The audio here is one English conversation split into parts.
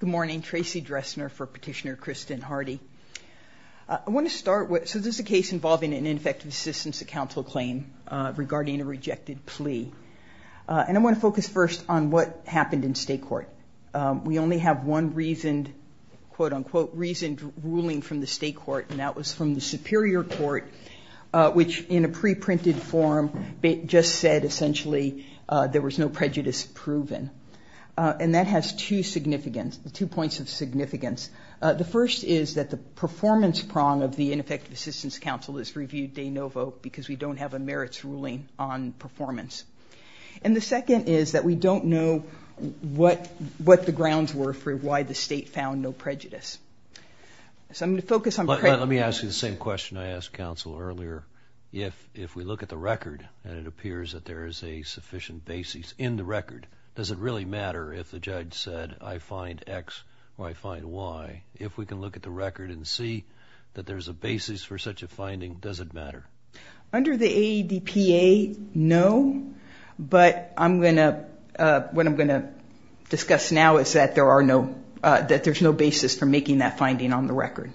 Good morning. Tracy Dressner for Petitioner Kristen Hardy. I want to start with, so this is a case involving an ineffective assistance to counsel claim regarding a rejected plea. And I want to focus first on what happened in state court. We only have one reasoned, quote unquote, reasoned ruling from the state court, and that was from the Superior Court, which in a preprinted form just said essentially there was no prejudice proven. And that has two significance, two points of significance. The first is that the performance prong of the ineffective assistance counsel is reviewed de novo because we don't have a merits ruling on performance. And the second is that we don't know what the grounds were for why the defendant's claim was rejected. So we have to look at the record and see if there is a sufficient basis in the record. Does it really matter if the judge said I find X or I find Y? If we can look at the record and see that there's a basis for such a finding, does it matter? Under the AEDPA, no. But what I'm going to discuss now is that there's no basis for making that finding on the record.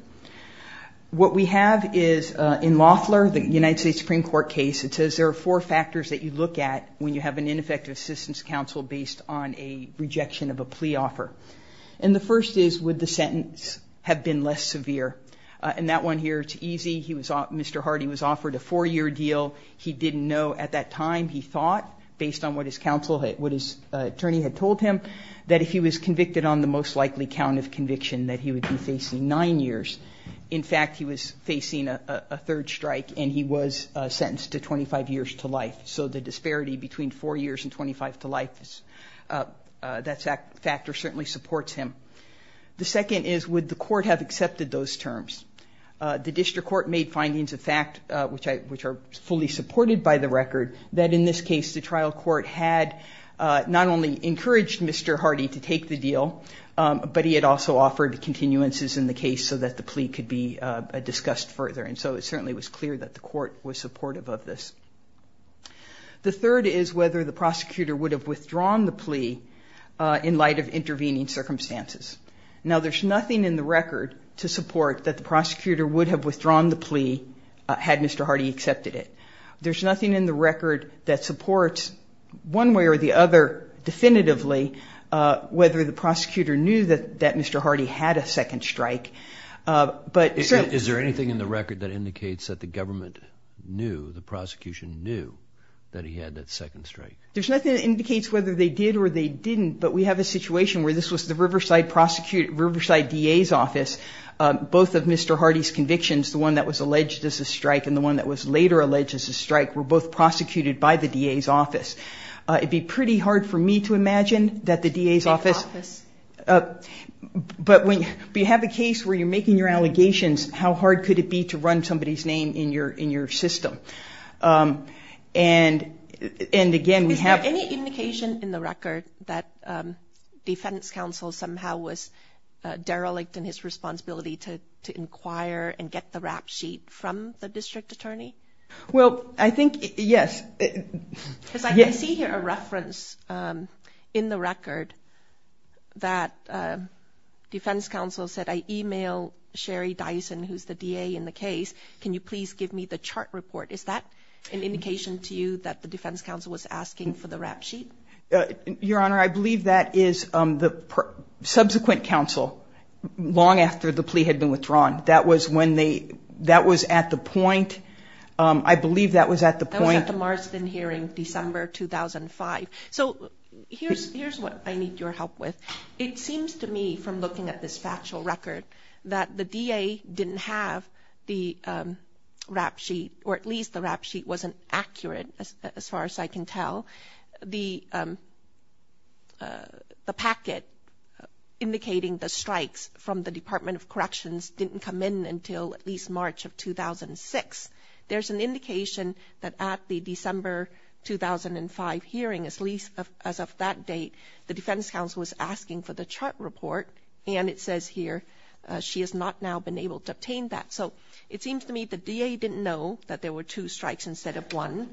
What we have is in Loffler, the United States Supreme Court case, it says there are four factors that you look at when you have an ineffective assistance counsel based on a rejection of a plea offer. And the first is would the sentence have been less severe? And that one here, it's easy. Mr. Hardy was offered a four-year deal. He didn't know at that time, he thought, based on what his counsel, what his attorney had been facing, nine years. In fact, he was facing a third strike and he was sentenced to 25 years to life. So the disparity between four years and 25 to life, that factor certainly supports him. The second is would the court have accepted those terms? The district court made findings of fact, which are fully supported by the record, that in this case the trial court had not only encouraged Mr. Hardy to take the deal, but he had also offered continuances in the case so that the plea could be discussed further. And so it certainly was clear that the court was supportive of this. The third is whether the prosecutor would have withdrawn the plea in light of intervening circumstances. Now, there's nothing in the record to support that the prosecutor would have withdrawn the plea had Mr. Hardy accepted it. There's nothing in the record that definitively whether the prosecutor knew that Mr. Hardy had a second strike. Is there anything in the record that indicates that the government knew, the prosecution knew that he had that second strike? There's nothing that indicates whether they did or they didn't, but we have a situation where this was the Riverside DA's office, both of Mr. Hardy's convictions, the one that was alleged as a strike and the one that was later alleged as a strike, were both But when you have a case where you're making your allegations, how hard could it be to run somebody's name in your system? Is there any indication in the record that defense counsel somehow was derelict in his responsibility to inquire and get the rap sheet from the district attorney? Well, I think, yes. Because I see here a reference in the record that defense counsel said, I email Sherry Dyson, who's the DA in the case, can you please give me the chart report? Is that an indication to you that the defense counsel was asking for the rap sheet? Your Honor, I believe that is the subsequent counsel, long after the plea had been withdrawn. That was at the point, I believe that was at the point That was at the Marsden hearing, December 2005. So here's what I need your help with. It seems to me, from looking at this factual record, that the DA didn't have the rap sheet, or at least the rap sheet wasn't accurate, as far as I can tell. The packet indicating the strikes from the Department of Corrections didn't come in until at least March of 2006. There's an indication that at the December 2005 hearing, as of that date, the defense counsel was asking for the chart report, and it says here she has not now been able to obtain that. So it seems to me the DA didn't know that there were two strikes instead of one.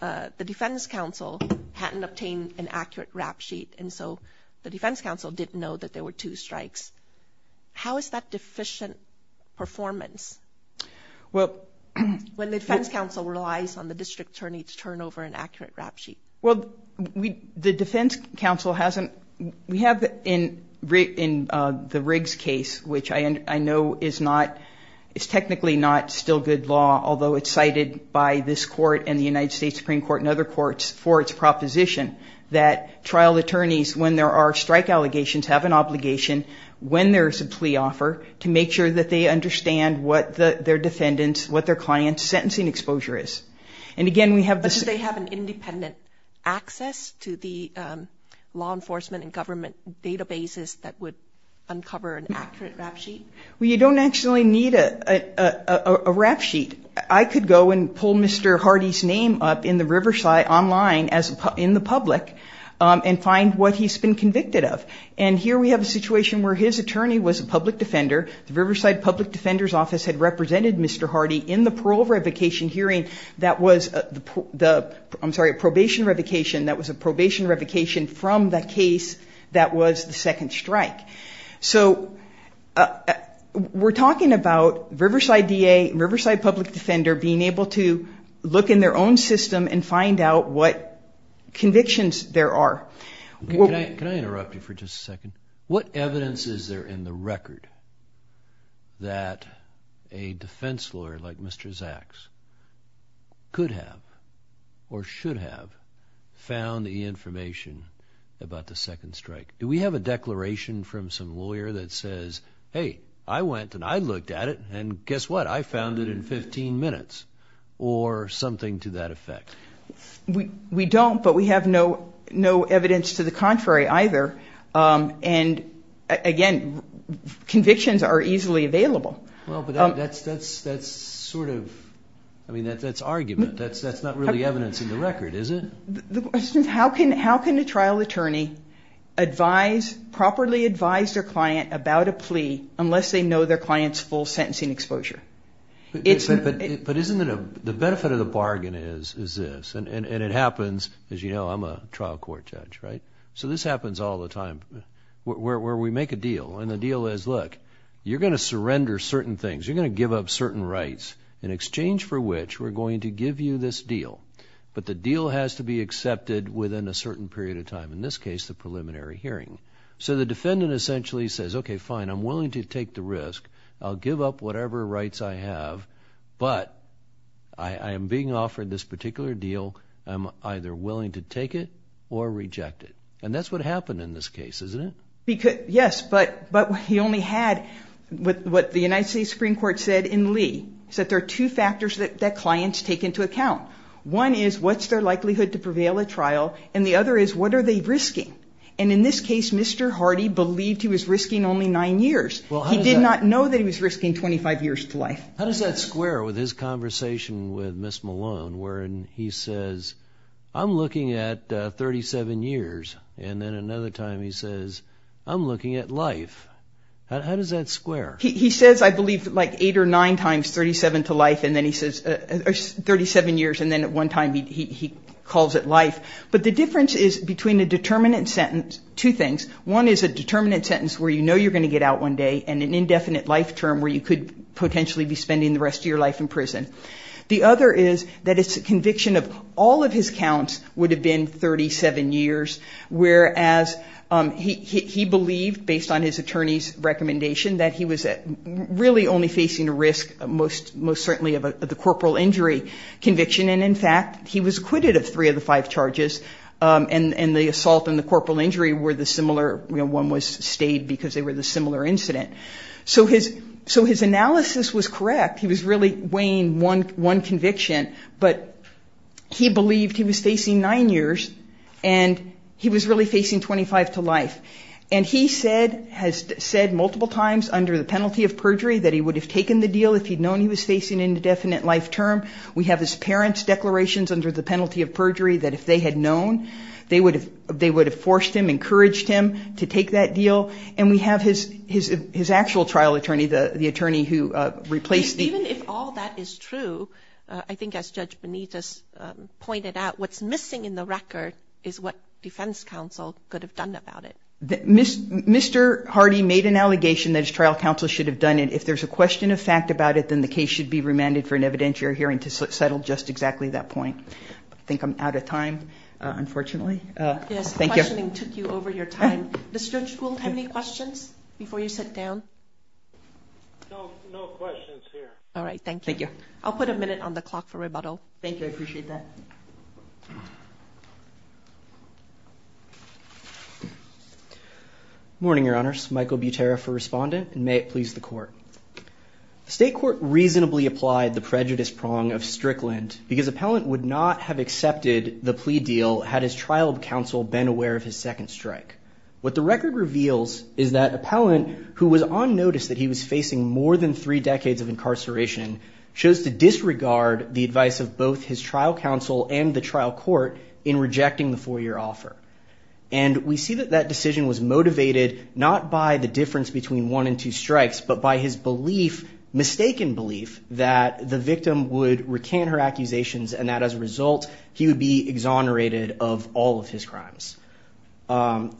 The defense counsel hadn't obtained an accurate rap sheet, and so the defense counsel didn't know that there were two strikes. How is that deficient performance when the defense counsel relies on the district attorney to turn over an accurate rap sheet? Well, the defense counsel hasn't. We have in the Riggs case, which I know is not, it's technically not still good law, although it's cited by this court and the United States Supreme Court and other courts for its proposition that trial attorneys, when there are strike allegations, have an obligation, when there's a plea offer, to make sure that they understand what their defendant's, what their client's, sentencing exposure is. And again, we have the... But do they have an independent access to the law enforcement and government databases that would uncover an accurate rap sheet? Well, you don't actually need a rap sheet. I could go and pull Mr. Hardy's name up in the Riverside online in the public and find what he's been convicted of. And here we have a situation where his attorney was a public defender. The Riverside Public Defender's Office had represented Mr. Hardy in the parole revocation hearing that was the, I'm sorry, a probation revocation, that was a probation revocation from the case that was the second strike. So we're talking about Riverside DA, Riverside Public Defender, being able to look in their own system and find out what convictions there are. Can I interrupt you for just a second? What evidence is there in the record that a defense lawyer like Mr. Zaks could have or should have found the information about the second strike? Do we have a declaration from some lawyer that says, hey, I went and I looked at it and guess what, I found it in 15 minutes or something to that effect? We don't, but we have no evidence to the contrary either. And again, convictions are easily available. Well, but that's sort of, I mean, that's argument. That's not really evidence in the record, is it? How can a trial attorney advise, properly advise their client about a plea unless they know their client's full sentencing exposure? But isn't it, the benefit of the bargain is this, and it happens, as you know, I'm a trial court judge, right? So this happens all the time where we make a deal, and the deal is, look, you're going to surrender certain things, you're going to give up certain rights in exchange for which we're going to give you this deal. But the deal has to be accepted within a certain period of time, in this case, the preliminary hearing. So the defendant essentially says, okay, fine, I'm willing to take the risk, I'll give up whatever rights I have, but I am being offered this particular deal, I'm either willing to take it or reject it. And that's what happened in this case, isn't it? Yes, but he only had what the United States Supreme Court said in Lee, is that there are two factors that clients take into account. One is, what's their likelihood to prevail at trial? And the other is, what are they risking? And in this case, Mr. Hardy believed he was risking only nine years. He did not know that he was risking 25 years to life. How does that square with his conversation with Ms. Malone, wherein he says, I'm looking at 37 years, and then another time he says, I'm looking at life? How does that square? He says, I believe, like eight or nine times 37 to life, and then he says 37 years, and then at one time he calls it life. But the difference is between a determinant sentence, two things. One is a determinant sentence where you know you're going to get out one day, and an indefinite life term where you could potentially be spending the rest of your life in prison. The other is that it's a conviction of all of his counts would have been 37 years, whereas he believed, based on his attorney's recommendation, that he was really only facing a risk most certainly of the corporal injury conviction, and in fact, he was acquitted of three of the five charges, and the assault and the corporal injury were the similar, one was stayed because they were the similar incident. So his analysis was correct. He was really weighing one conviction, but he believed he was facing nine years, and he was really facing 25 to life. And he said, has said multiple times under the penalty of perjury that he would have taken the deal if he'd known he was facing an indefinite life term. We have his parents' declarations under the penalty of perjury that if they had known, they would have forced him, encouraged him to take that deal, and we have his actual trial attorney, the attorney who replaced him. Even if all that is true, I think as Judge Benitez pointed out, what's missing in the record is what defense counsel could have done about it. Mr. Hardy made an allegation that his trial counsel should have done it. If there's a question of fact about it, then the case should be remanded for an evidentiary hearing to settle just exactly that point. I think I'm out of time, unfortunately. Yes, questioning took you over your time. Does Judge Gould have any questions before you sit down? No questions here. Thank you. I'll put a minute on the clock for rebuttal. Thank you. I appreciate that. Morning, Your Honors. Michael Butera for Respondent, and may it please the Court. The State Court reasonably applied the prejudice prong of Strickland because Appellant would not have accepted the plea deal had his trial counsel been aware of his second strike. What the record reveals is that Appellant, who was on notice that he was facing more than three decades of incarceration, chose to disregard the advice of both his trial counsel and the trial court in rejecting the four-year offer. And we see that that decision was motivated not by the difference between one and two strikes, but by his belief, mistaken belief that the victim would recant her accusations and that as a result, he would be exonerated of all of his crimes. I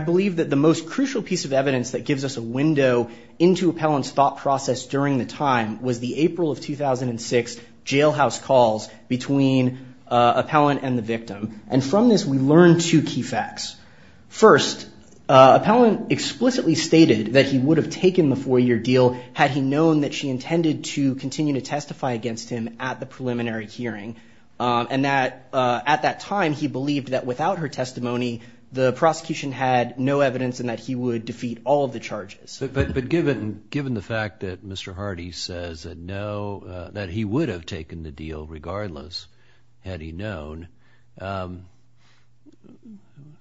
believe that the most crucial piece of evidence that gives us a window into the April of 2006 jailhouse calls between Appellant and the victim. And from this, we learn two key facts. First, Appellant explicitly stated that he would have taken the four-year deal had he known that she intended to continue to testify against him at the preliminary hearing, and that at that time, he believed that without her testimony, the prosecution had no evidence and that he would defeat all of the charges. But, but, but given, given the fact that Mr. Hardy says that no, that he would have taken the deal regardless, had he known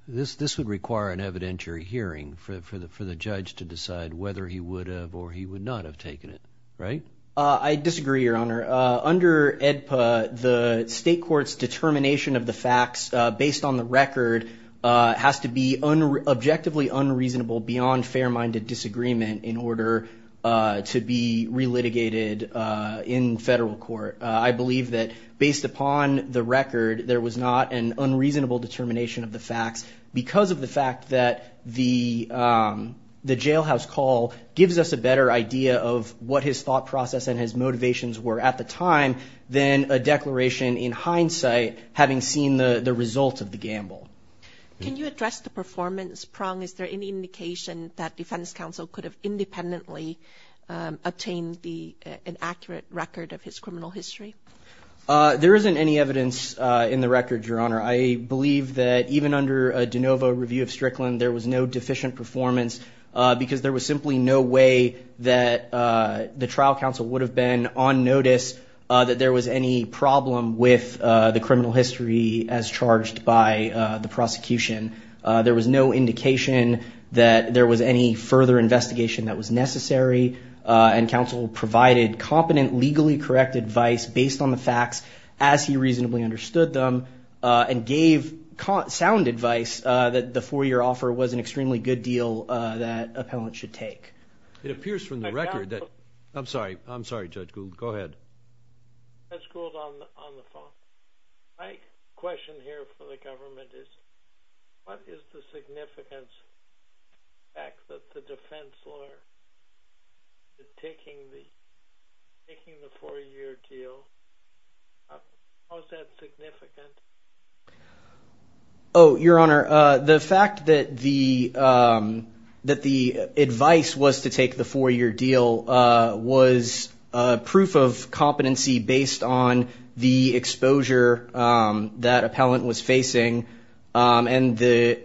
this, this would require an evidentiary hearing for the, for the judge to decide whether he would have, or he would not have taken it. Right. I disagree, Your Honor. Under EDPA, the state court's determination of the facts based on the record has to be an agreement in order to be re-litigated in federal court. I believe that based upon the record, there was not an unreasonable determination of the facts because of the fact that the, the jailhouse call gives us a better idea of what his thought process and his motivations were at the time than a declaration in hindsight, having seen the results of the gamble. Can you address the performance prong? Is there any indication that defense counsel could have independently obtained the, an accurate record of his criminal history? There isn't any evidence in the record, Your Honor. I believe that even under a DeNovo review of Strickland, there was no deficient performance because there was simply no way that the trial counsel would have been on notice that there was any problem with the criminal history as charged by the prosecution. There was no indication that there was any further investigation that was necessary and counsel provided competent, legally correct advice based on the facts as he reasonably understood them and gave sound advice that the four-year offer was an extremely good deal that appellant should take. It appears from the record that, I'm sorry, I'm sorry, Judge Gould. Go ahead. Judge Gould on the phone. My question here for the government is, what is the significance of the fact that the defense lawyer is taking the, taking the four-year deal? How is that significant? Oh, Your Honor, the fact that the, that the advice was to take the four-year deal was a proof of competency based on the exposure that appellant was facing and the,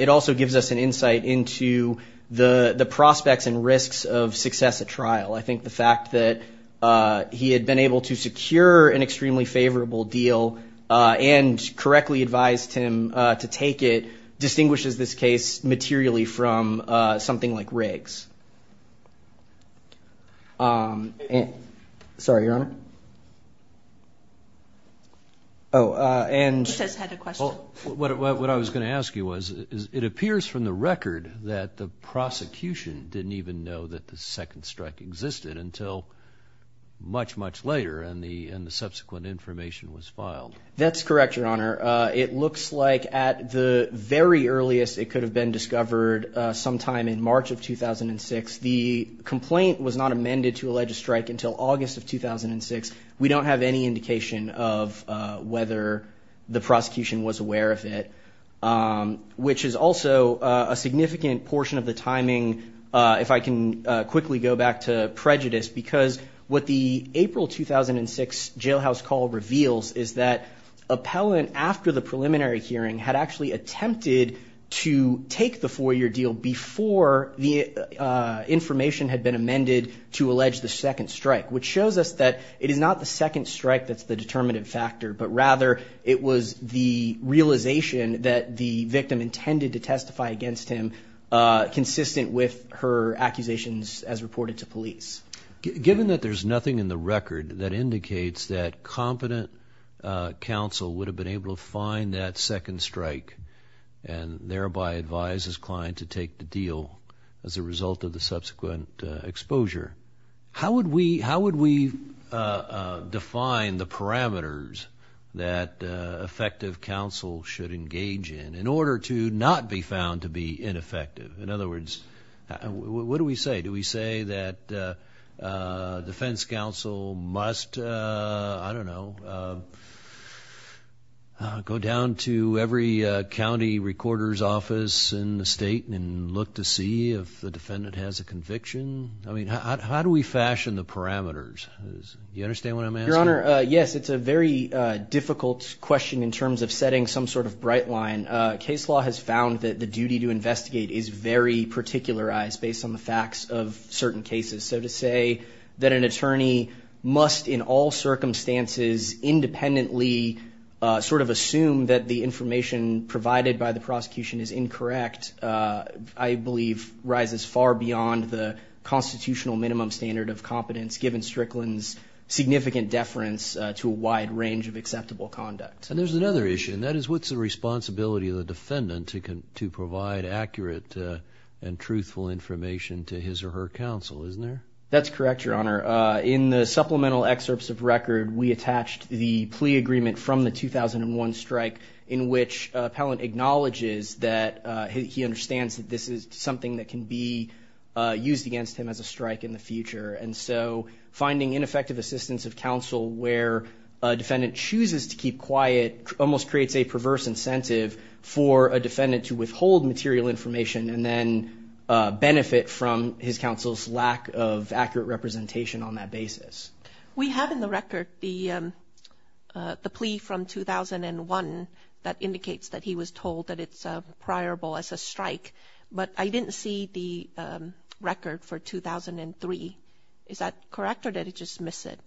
it also gives us an insight into the prospects and risks of success at trial. I think the fact that he had been able to secure an extremely favorable deal and correctly advised him to take it distinguishes this case materially from something like Riggs. Sorry, Your Honor. Oh, and. He says he had a question. What I was going to ask you was, it appears from the record that the prosecution didn't even know that the second strike existed until much, much later, and the subsequent information was filed. That's correct, Your Honor. It looks like at the very earliest it could have been discovered sometime in March of 2006. The complaint was not amended to allege a strike until August of 2006. We don't have any indication of whether the prosecution was aware of it, which is also a significant portion of the timing. If I can quickly go back to prejudice, because what the April 2006 jailhouse call reveals is that appellant, after the preliminary hearing, had actually attempted to take the four-year deal before the information had been amended to allege the second strike, which shows us that it is not the second strike that's the determinative factor, but rather it was the realization that the victim intended to testify against him consistent with her accusations as reported to police. Given that there's nothing in the record that indicates that competent counsel would have been able to find that second strike and thereby advise his client to take the deal as a result of the subsequent exposure, how would we define the parameters that effective counsel should engage in, in order to not be found to be ineffective? In other words, what do we say? Do we say that defense counsel must, I don't know, go down to every county recorder's office in the state and look to see if the defendant has a conviction? I mean, how do we fashion the parameters? Do you understand what I'm asking? Your Honor, yes. It's a very difficult question in terms of setting some sort of bright line. Case law has found that the duty to investigate is very particularized based on the facts of certain cases. So to say that an attorney must in all circumstances independently sort of assume that the information provided by the prosecution is incorrect, I believe rises far beyond the constitutional minimum standard of competence given Strickland's significant deference to a wide range of acceptable conduct. And there's another issue, and that is what's the responsibility of the defendant to provide accurate and accurate information to his or her counsel, isn't there? That's correct, Your Honor. In the supplemental excerpts of record, we attached the plea agreement from the 2001 strike in which appellant acknowledges that he understands that this is something that can be used against him as a strike in the future. And so finding ineffective assistance of counsel where a defendant chooses to keep quiet almost creates a perverse incentive for a defendant to withhold material information and then benefit from his counsel's lack of accurate representation on that basis. We have in the record the plea from 2001 that indicates that he was told that it's a priorable as a strike, but I didn't see the record for 2003. Is that correct or did he just miss it?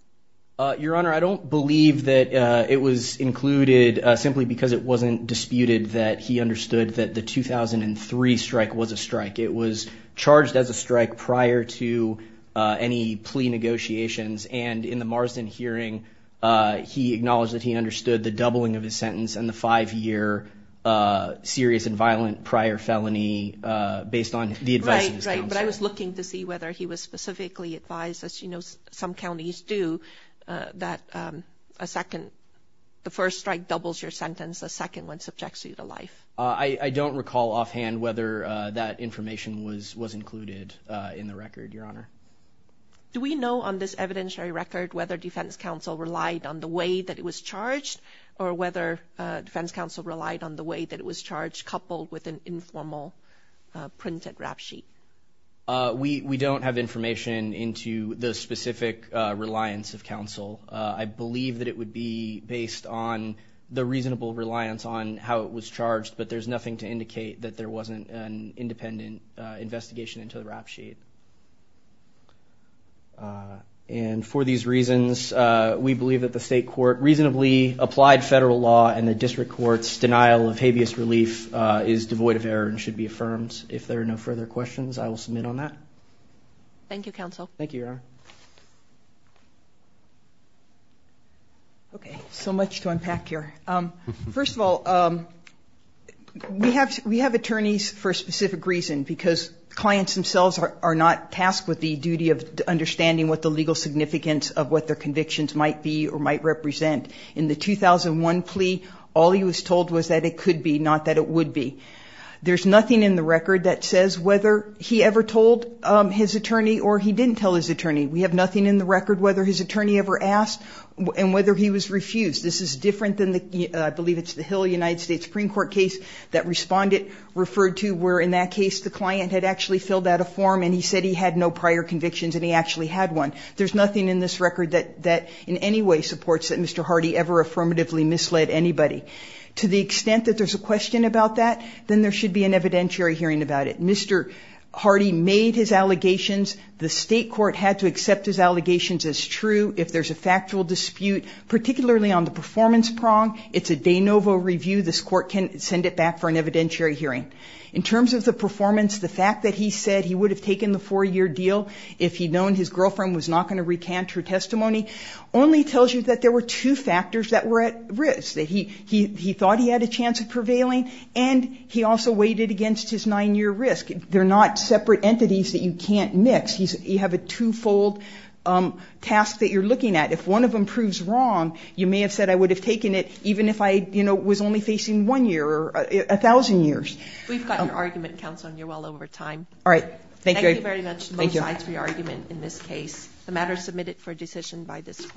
Your Honor, I don't believe that it was included simply because it wasn't disputed that he knew that the 2003 strike was a strike. It was charged as a strike prior to any plea negotiations. And in the Marsden hearing, he acknowledged that he understood the doubling of his sentence and the five-year serious and violent prior felony based on the advice of his counsel. Right, right. But I was looking to see whether he was specifically advised, as you know some counties do, that a second, the first strike doubles your sentence, the second one subjects you to life. I don't recall offhand whether that information was included in the record, Your Honor. Do we know on this evidentiary record whether defense counsel relied on the way that it was charged or whether defense counsel relied on the way that it was charged coupled with an informal printed rap sheet? We don't have information into the specific reliance of counsel. I believe that it would be based on the reasonable reliance on how it was charged, but there's nothing to indicate that there wasn't an independent investigation into the rap sheet. And for these reasons, we believe that the state court reasonably applied federal law and the district court's denial of habeas relief is devoid of error and should be affirmed. If there are no further questions, I will submit on that. Thank you, counsel. Thank you, Your Honor. Okay, so much to unpack here. First of all, we have attorneys for a specific reason, because clients themselves are not tasked with the duty of understanding what the legal significance of what their convictions might be or might represent. In the 2001 plea, all he was told was that it could be, not that it would be. There's nothing in the record that says whether he ever told his attorney or he didn't tell his attorney. We have nothing in the record whether his attorney ever asked and whether he was refused. This is different than the, I believe it's the Hill United States Supreme Court case that respondent referred to where in that case the client had actually filled out a form and he said he had no prior convictions and he actually had one. There's nothing in this record that in any way supports that Mr. Hardy ever affirmatively misled anybody. To the extent that there's a question about that, then there should be an evidentiary hearing about it. Mr. Hardy made his allegations. The state court had to accept his allegations as true. If there's a factual dispute, particularly on the performance prong, it's a de novo review. This court can send it back for an evidentiary hearing. In terms of the performance, the fact that he said he would have taken the four-year deal if he'd known his girlfriend was not going to recant her testimony only tells you that there were two factors that were at risk, that he thought he had a chance of prevailing and he also weighed it against his nine-year risk. They're not separate entities that you can't mix. You have a two-fold task that you're looking at. If one of them proves wrong, you may have said I would have taken it even if I, you know, was only facing one year or a thousand years. We've got your argument, Counsel, and you're well over time. All right. Thank you. Thank you very much to both sides for your argument in this case. The matter is submitted for decision by this court.